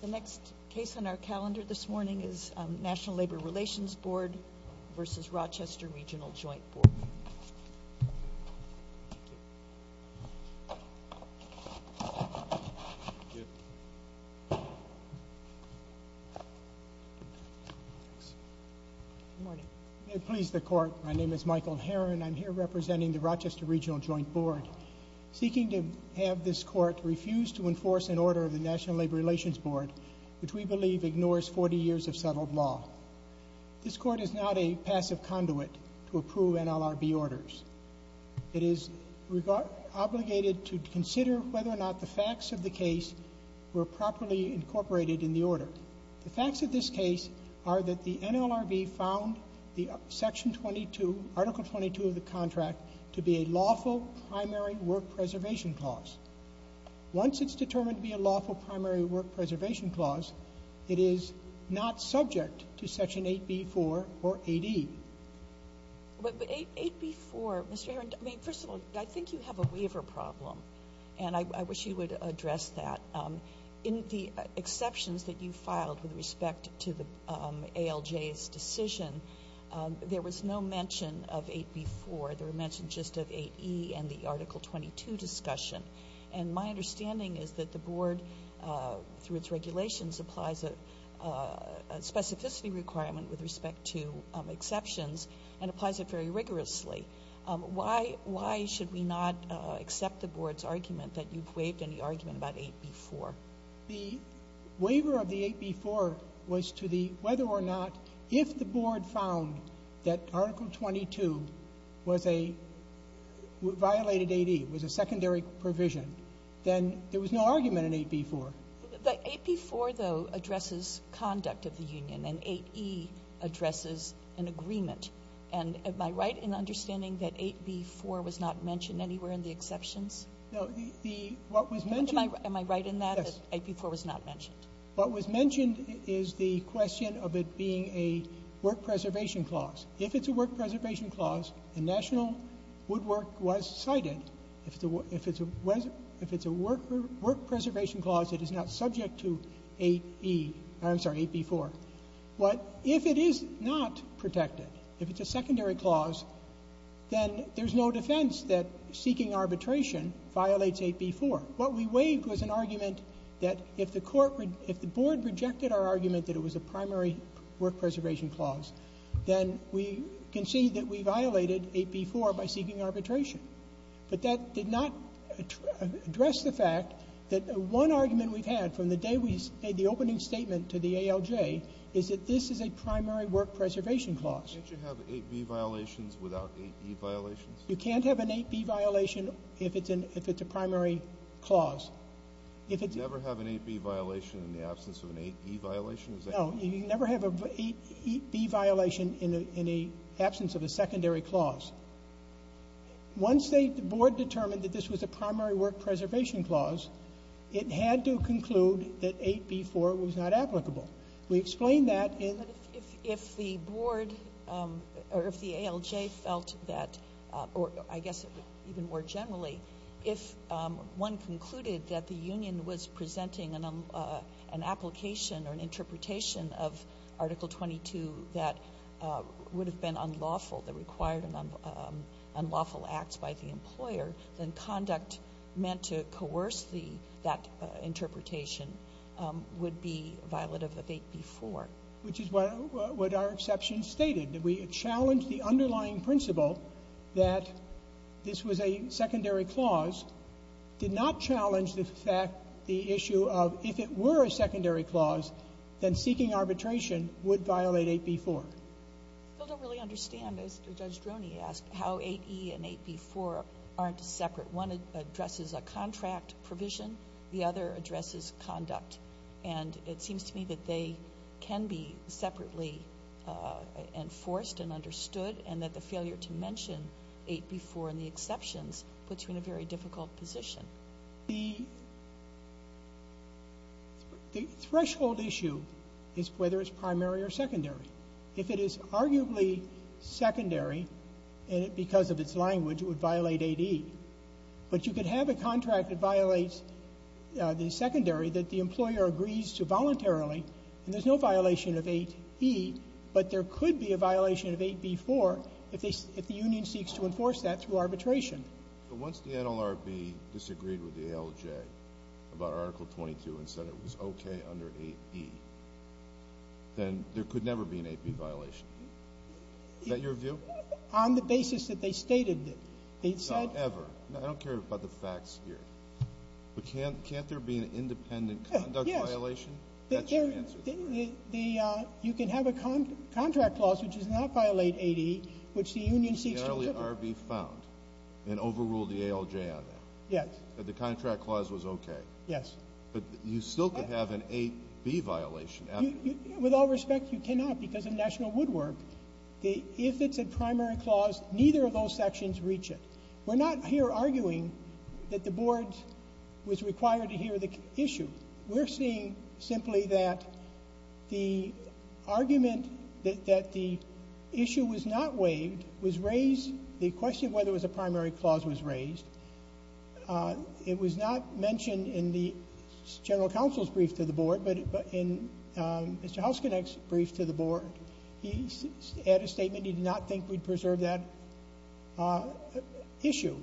The next case on our calendar this morning is National Labor Relations Board v. Rochester Regional Joint Board. Good morning. May it please the Court, my name is Michael Herron. I'm here representing the Rochester Regional Joint Board. Seeking to have this Court refuse to enforce an order of the National Labor Relations Board which we believe ignores 40 years of settled law. This Court is not a passive conduit to approve NLRB orders. It is obligated to consider whether or not the facts of the case were properly incorporated in the order. The facts of this case are that the NLRB found the Section 22, Article 22 of the contract to be a lawful primary work preservation clause. Once it's determined to be a lawful primary work preservation clause, it is not subject to Section 8b-4 or 8e. But 8b-4, Mr. Herron, I mean, first of all, I think you have a waiver problem, and I wish you would address that. In the exceptions that you filed with respect to the ALJ's decision, there was no mention of 8b-4. There were mentions just of 8e and the Article 22 discussion. And my understanding is that the Board, through its regulations, applies a specificity requirement with respect to exceptions and applies it very rigorously. Why should we not accept the Board's argument that you've waived any argument about 8b-4? The waiver of the 8b-4 was to the whether or not if the Board found that Article 22 was a violated 8e, was a secondary provision, then there was no argument in 8b-4. The 8b-4, though, addresses conduct of the union, and 8e addresses an agreement. And am I right in understanding that 8b-4 was not mentioned anywhere in the exceptions? Am I right in that, that 8b-4 was not mentioned? What was mentioned is the question of it being a work preservation clause. If it's a work preservation clause, and national woodwork was cited, if it's a work preservation clause, it is not subject to 8e or, I'm sorry, 8b-4. But if it is not protected, if it's a secondary clause, then there's no defense that seeking arbitration violates 8b-4. What we waived was an argument that if the Court would — if the Board rejected our argument that it was a primary work preservation clause, then we concede that we violated 8b-4 by seeking arbitration. But that did not address the fact that one argument we've had from the day we made the opening statement to the ALJ is that this is a primary work preservation clause. Can't you have 8b violations without 8e violations? You can't have an 8b violation if it's a primary clause. You never have an 8b violation in the absence of an 8e violation? No. You never have an 8b violation in the absence of a secondary clause. Once the Board determined that this was a primary work preservation clause, it had to conclude that 8b-4 was not applicable. We explained that in — But if the Board or if the ALJ felt that — or I guess even more generally, if one concluded that the union was presenting an application or an interpretation of Article 22 that would have been unlawful, the required unlawful acts by the employer, then conduct meant to coerce the — that interpretation would be violative of 8b-4. Which is what our exception stated. We challenged the underlying principle that this was a secondary clause, did not challenge the fact — the issue of if it were a secondary clause, then seeking arbitration would violate 8b-4. I still don't really understand, as Judge Droney asked, how 8e and 8b-4 aren't separate. One addresses a contract provision. The other addresses conduct. And it seems to me that they can be separately enforced and understood, and that the failure to mention 8b-4 in the exceptions puts you in a very difficult position. The threshold issue is whether it's primary or secondary. If it is arguably secondary because of its language, it would violate 8e. But you could have a contract that violates the secondary that the employer agrees to voluntarily, and there's no violation of 8e, but there could be a violation of 8b-4 if the union seeks to enforce that through arbitration. But once the NLRB disagreed with the ALJ about Article 22 and said it was okay under 8e, then there could never be an 8b violation. Is that your view? On the basis that they stated that they'd said — No, ever. I don't care about the facts here. But can't there be an independent conduct violation? Yes. That's your answer. You can have a contract clause which does not violate 8e, which the union seeks to — The NLRB found and overruled the ALJ on that. Yes. That the contract clause was okay. Yes. But you still could have an 8b violation. With all respect, you cannot because of national woodwork. If it's a primary clause, neither of those sections reach it. We're not here arguing that the board was required to hear the issue. We're saying simply that the argument that the issue was not waived was raised — the question of whether it was a primary clause was raised. It was not mentioned in the general counsel's brief to the board, but in Mr. Hausknecht's brief to the board. He had a statement. He did not think we'd preserve that issue.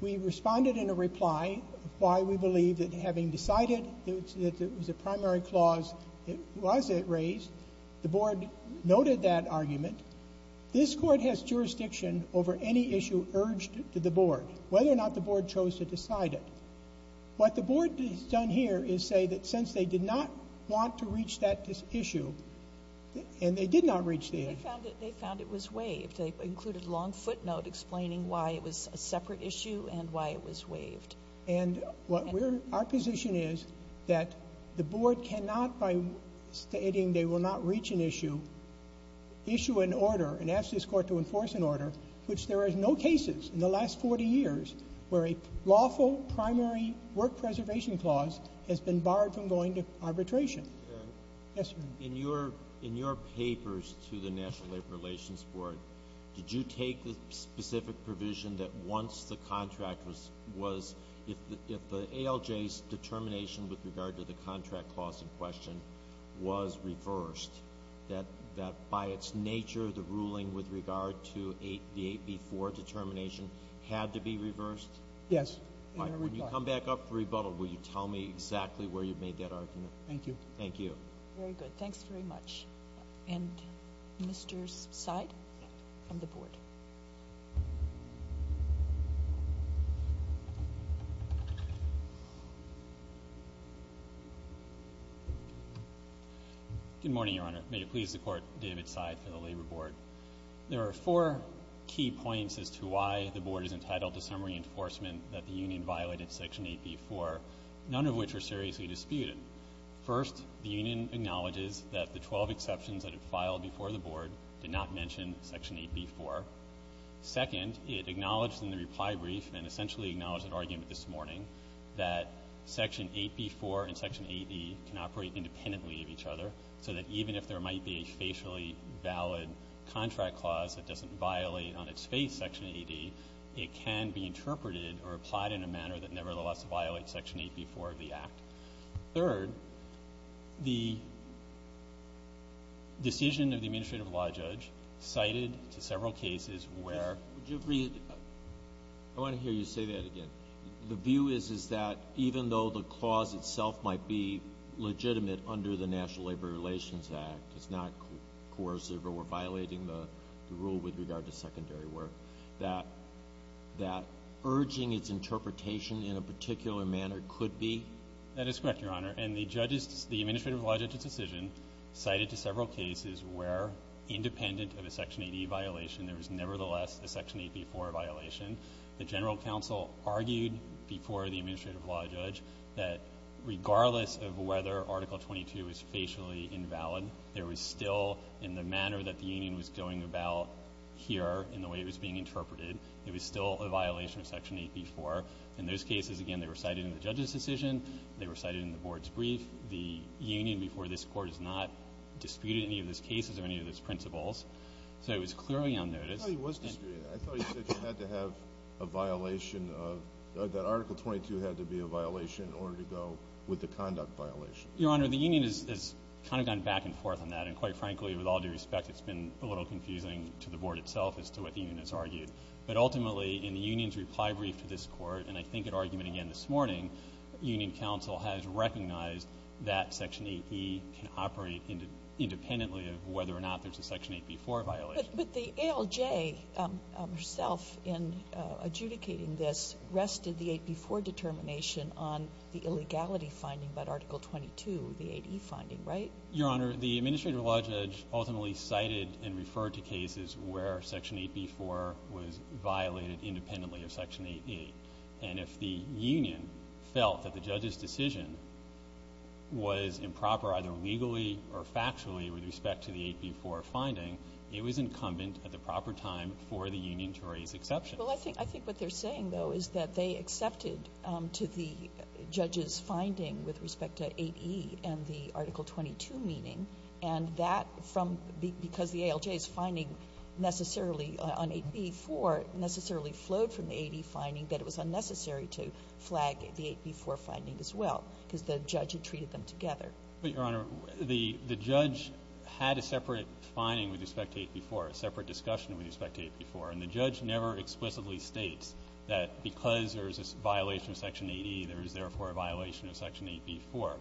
We responded in a reply why we believe that having decided that it was a primary clause, it was raised. The board noted that argument. This Court has jurisdiction over any issue urged to the board, whether or not the board chose to decide it. What the board has done here is say that since they did not want to reach that issue, and they did not reach the issue — They found it was waived. They included a long footnote explaining why it was a separate issue and why it was waived. And what we're — our position is that the board cannot, by stating they will not reach an issue, issue an order and ask this Court to enforce an order, which there are no cases in the last 40 years where a lawful primary work preservation clause has been barred from going to arbitration. Yes, ma'am. In your papers to the National Labor Relations Board, did you take the specific provision that once the contract was — if the ALJ's determination with regard to the contract clause in question was reversed, that by its nature the ruling with regard to the 8B4 determination had to be reversed? When you come back up for rebuttal, will you tell me exactly where you made that argument? Thank you. Thank you. Very good. Thanks very much. And Mr. Seid from the board. Good morning, Your Honor. May it please the Court, David Seid from the Labor Board. There are four key points as to why the board is entitled to some reinforcement that the union violated Section 8B4, none of which are seriously disputed. First, the union acknowledges that the 12 exceptions that it filed before the board did not mention Section 8B4. Second, it acknowledged in the reply brief and essentially acknowledged an argument this morning that Section 8B4 and Section 8E can operate independently of each other, so that even if there might be a facially valid contract clause that doesn't violate on its face Section 8E, it can be interpreted or applied in a manner that nevertheless violates Section 8B4 of the Act. Third, the decision of the administrative law judge cited to several cases where the view is that even though the clause itself might be legitimate under the National Labor Relations Act, it's not coercive or violating the rule with regard to secondary work, that urging its interpretation in a particular manner could be. That is correct, Your Honor. And the judge's – the administrative law judge's decision cited to several cases where independent of a Section 8E violation, there was nevertheless a Section 8B4 violation. The general counsel argued before the administrative law judge that regardless of whether Article 22 is facially invalid, there was still in the manner that the union was going about here in the way it was being interpreted, there was still a violation of Section 8B4. In those cases, again, they were cited in the judge's decision, they were cited in the board's brief. The union before this Court has not disputed any of those cases or any of those principles, so it was clearly on notice. I thought he was disputing it. I thought he said you had to have a violation of – that Article 22 had to be a violation in order to go with the conduct violation. Your Honor, the union has kind of gone back and forth on that, and quite frankly, with all due respect, it's been a little confusing to the board itself as to what the union has argued. But ultimately, in the union's reply brief to this Court, and I think at argument again this morning, union counsel has recognized that Section 8B can operate independently of whether or not there's a Section 8B4 violation. But the ALJ herself in adjudicating this rested the 8B4 determination on the illegality finding about Article 22, the 8E finding, right? Your Honor, the administrative law judge ultimately cited and referred to cases where Section 8B4 was violated independently of Section 8E. And if the union felt that the judge's decision was improper either legally or factually with respect to the 8B4 finding, it was incumbent at the proper time for the union to raise exception. Well, I think what they're saying, though, is that they accepted to the judge's finding with respect to 8E and the Article 22 meeting, and that from the ALJ's finding necessarily on 8B4 necessarily flowed from the 8E finding that it was unnecessary to flag the 8B4 finding as well because the judge had treated them together. But, Your Honor, the judge had a separate finding with respect to 8B4, a separate discussion with respect to 8B4. And the judge never explicitly states that because there's a violation of Section 8E, there is therefore a violation of Section 8B4.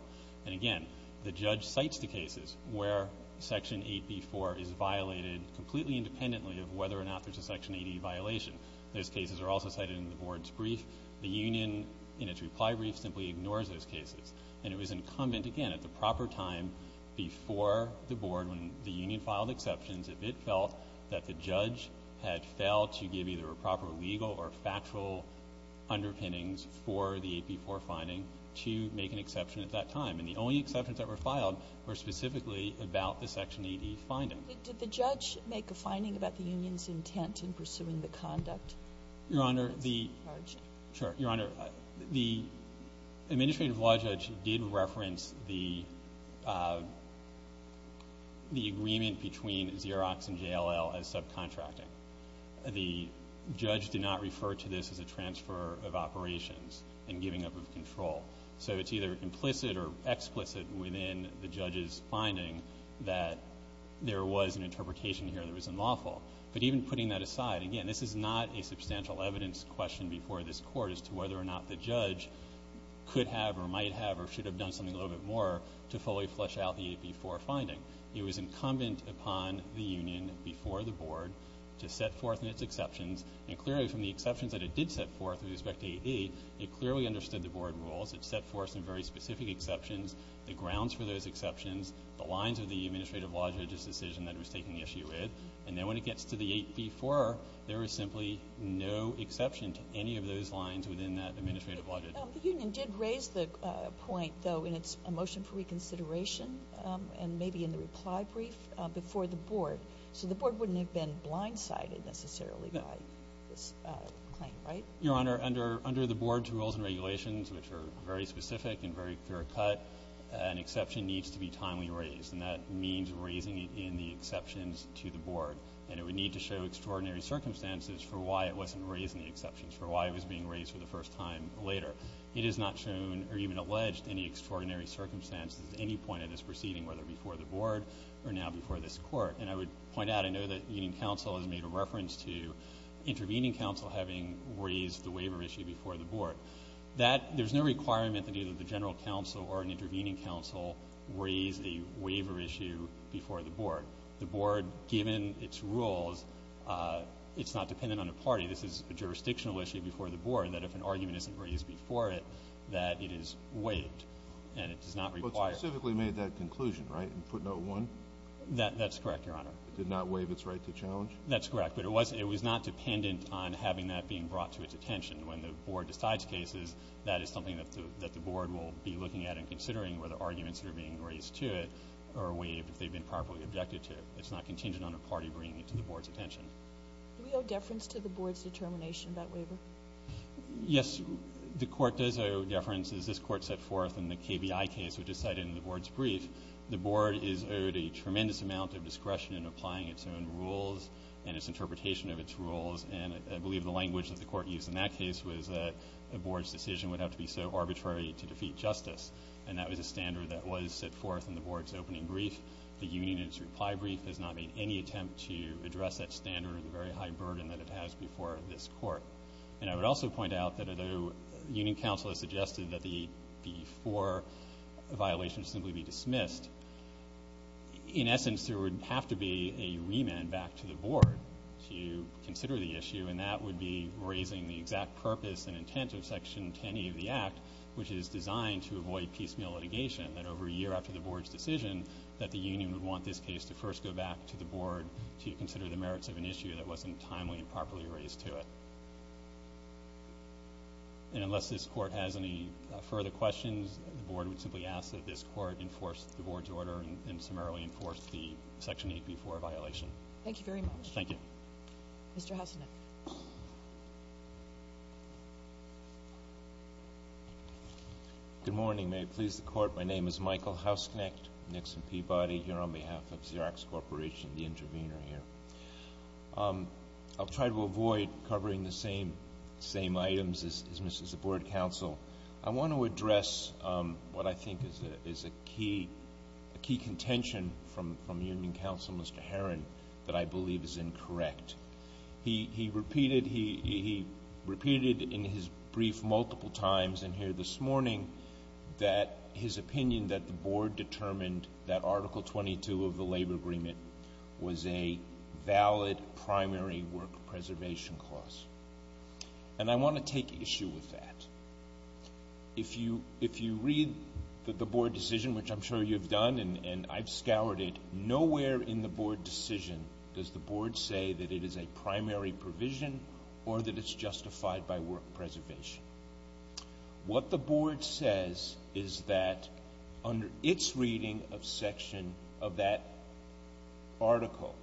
And, again, the judge cites the cases where Section 8B4 is violated completely independently of whether or not there's a Section 8E violation. Those cases are also cited in the board's brief. The union, in its reply brief, simply ignores those cases. And it was incumbent, again, at the proper time before the board, when the union filed exceptions, if it felt that the judge had failed to give either a proper legal or factual underpinnings for the 8B4 finding, to make an exception at that time. And the only exceptions that were filed were specifically about the Section 8E finding. Did the judge make a finding about the union's intent in pursuing the conduct? Your Honor, the — That's large. Sure. Your Honor, the administrative law judge did reference the agreement between Xerox and JLL as subcontracting. The judge did not refer to this as a transfer of operations and giving up of control. So it's either implicit or explicit within the judge's finding that there was an interpretation here that was unlawful. But even putting that aside, again, this is not a substantial evidence question before this Court as to whether or not the judge could have or might have or should have done something a little bit more to fully flesh out the 8B4 finding. It was incumbent upon the union before the board to set forth in its exceptions. And clearly, from the exceptions that it did set forth with respect to 8E, it clearly understood the board rules. It set forth some very specific exceptions, the grounds for those exceptions, the lines of the administrative law judge's decision that it was taking issue with. And then when it gets to the 8B4, there is simply no exception to any of those lines within that administrative law judge. The union did raise the point, though, in its motion for reconsideration and maybe in the reply brief before the board. So the board wouldn't have been blindsided necessarily by this claim, right? Your Honor, under the board's rules and regulations, which are very specific and very clear-cut, an exception needs to be timely raised, and that means raising it in the exceptions to the board. And it would need to show extraordinary circumstances for why it wasn't raised in the exceptions, for why it was being raised for the first time later. It is not shown or even alleged any extraordinary circumstances at any point of this proceeding, whether before the board or now before this Court. And I would point out, I know that union counsel has made a reference to intervening counsel having raised the waiver issue before the board. There's no requirement that either the general counsel or an intervening counsel raise a waiver issue before the board. The board, given its rules, it's not dependent on a party. This is a jurisdictional issue before the board that if an argument isn't raised before it, that it is waived, and it does not require it. But specifically made that conclusion, right, in footnote 1? That's correct, Your Honor. It did not waive its right to challenge? That's correct, but it was not dependent on having that being brought to its attention. When the board decides cases, that is something that the board will be looking at and considering whether arguments that are being raised to it are waived, if they've been properly objected to. It's not contingent on a party bringing it to the board's attention. Do we owe deference to the board's determination about waiver? Yes. The Court does owe deference. As this Court set forth in the KBI case, which is cited in the board's brief, the board is owed a tremendous amount of discretion in applying its own rules and its interpretation of its rules. And I believe the language that the Court used in that case was that the board's decision would have to be so arbitrary to defeat justice. And that was a standard that was set forth in the board's opening brief. The union in its reply brief has not made any attempt to address that standard or the very high burden that it has before this Court. And I would also point out that although union counsel has suggested that the AP4 violation simply be dismissed, in essence there would have to be a remand back to the board to consider the issue, and that would be raising the exact purpose and intent of Section 10A of the Act, which is designed to avoid piecemeal litigation, that over a year after the board's decision, that the union would want this case to first go back to the board to consider the merits of an issue that wasn't timely and properly raised to it. And unless this Court has any further questions, the board would simply ask that this Court enforce the board's order and summarily enforce the Section AP4 violation. Thank you very much. Mr. Hausknecht. Good morning. May it please the Court, my name is Michael Hausknecht, Nixon Peabody here on behalf of Xerox Corporation, the intervener here. I'll try to avoid covering the same items as Mrs. Board Counsel. I want to address what I think is a key contention from union counsel, Mr. Herrin, that I believe is incorrect. He repeated in his brief multiple times in here this morning that his opinion that the board determined that Article 22 of the labor agreement was a valid primary work preservation clause. And I want to take issue with that. If you read the board decision, which I'm sure you've done and I've scoured it, nowhere in the board decision does the board say that it is a primary provision or that it's justified by work preservation. What the board says is that under its reading of section of that article,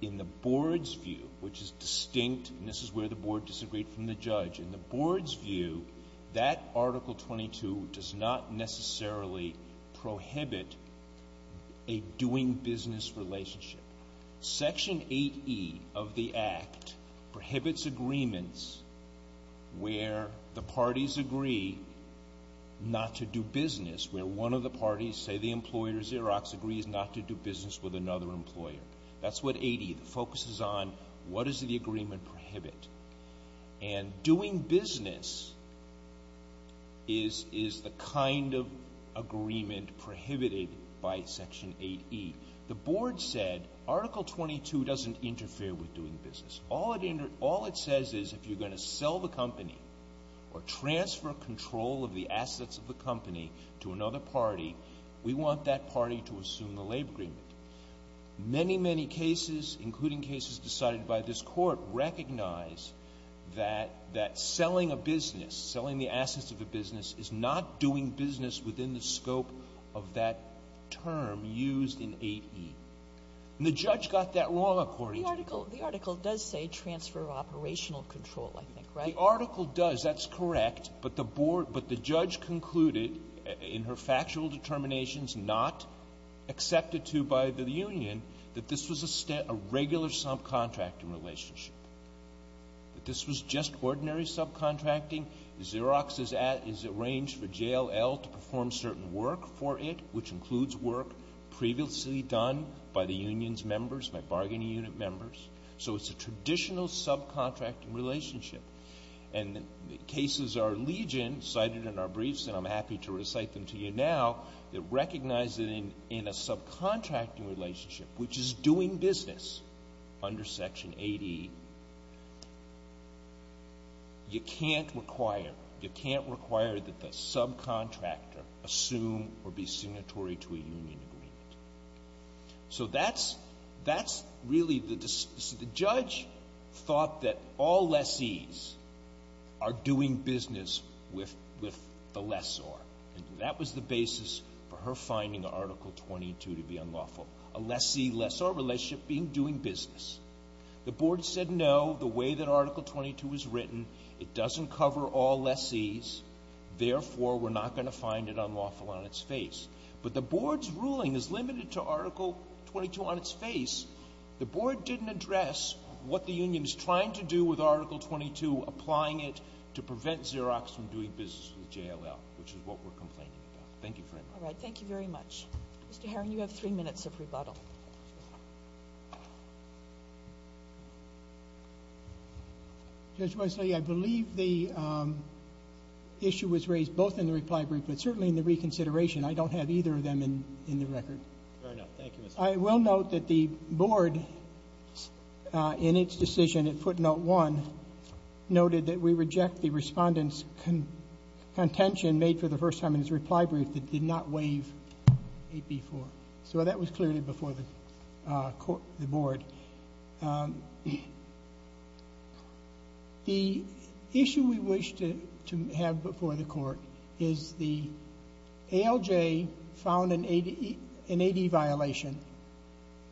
in the board's view, which is distinct, and this is where the board disagreed from the judge, in the board's view that Article 22 does not necessarily prohibit a doing business relationship. Section 8E of the Act prohibits agreements where the parties agree not to do business, where one of the parties, say the employer Xerox, agrees not to do business with another employer. That's what 8E focuses on. What does the agreement prohibit? And doing business is the kind of agreement prohibited by section 8E. The board said Article 22 doesn't interfere with doing business. All it says is if you're going to sell the company or transfer control of the assets of the company to another party, we want that party to assume the labor agreement. Many, many cases, including cases decided by this Court, recognize that that selling a business, selling the assets of a business, is not doing business within the scope of that term used in 8E. And the judge got that wrong, according to the court. Sotomayor, the article does say transfer of operational control, I think, right? The article does. That's correct. But the judge concluded in her factual determinations not accepted to by the union that this was a regular subcontracting relationship, that this was just ordinary subcontracting. Xerox is arranged for JLL to perform certain work for it, which includes work previously done by the union's members, by bargaining unit members. So it's a traditional subcontracting relationship. And cases are legion, cited in our briefs, and I'm happy to recite them to you now, that recognize that in a subcontracting relationship, which is doing business under Section 8E, you can't require that the subcontractor assume or be signatory to a union agreement. So that's really the decision. The judge thought that all lessees are doing business with the lessor, and that was the basis for her finding Article 22 to be unlawful, a lessee-lessor relationship being doing business. The board said no, the way that Article 22 was written, it doesn't cover all lessees, therefore, we're not going to find it unlawful on its face. But the board's ruling is limited to Article 22 on its face. The board didn't address what the union is trying to do with Article 22, applying it to prevent Xerox from doing business with JLL, which is what we're complaining about. Thank you very much. All right, thank you very much. Mr. Herring, you have three minutes of rebuttal. Judge Wesley, I believe the issue was raised both in the reply brief, but certainly in the reconsideration, I don't have either of them in the record. Fair enough. Thank you, Mr. Herring. I will note that the board, in its decision at footnote one, noted that we reject the respondent's contention made for the first time in his reply brief that did not waive 8B-4. So that was clearly before the board. The issue we wish to have before the court is the ALJ found an AD violation,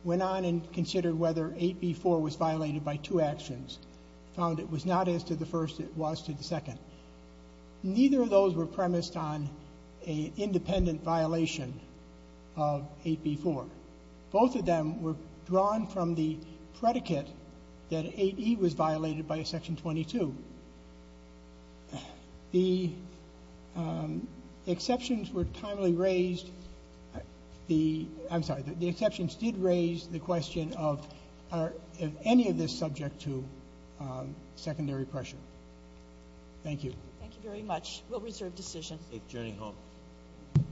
went on and considered whether 8B-4 was violated by two actions, found it was not as to the first, it was to the second. Neither of those were premised on an independent violation of 8B-4. Both of them were drawn from the predicate that 8E was violated by Section 22. The exceptions were timely raised. I'm sorry, the exceptions did raise the question of, are any of this subject to secondary pressure? Thank you. Thank you very much. We'll reserve decision. Journey home.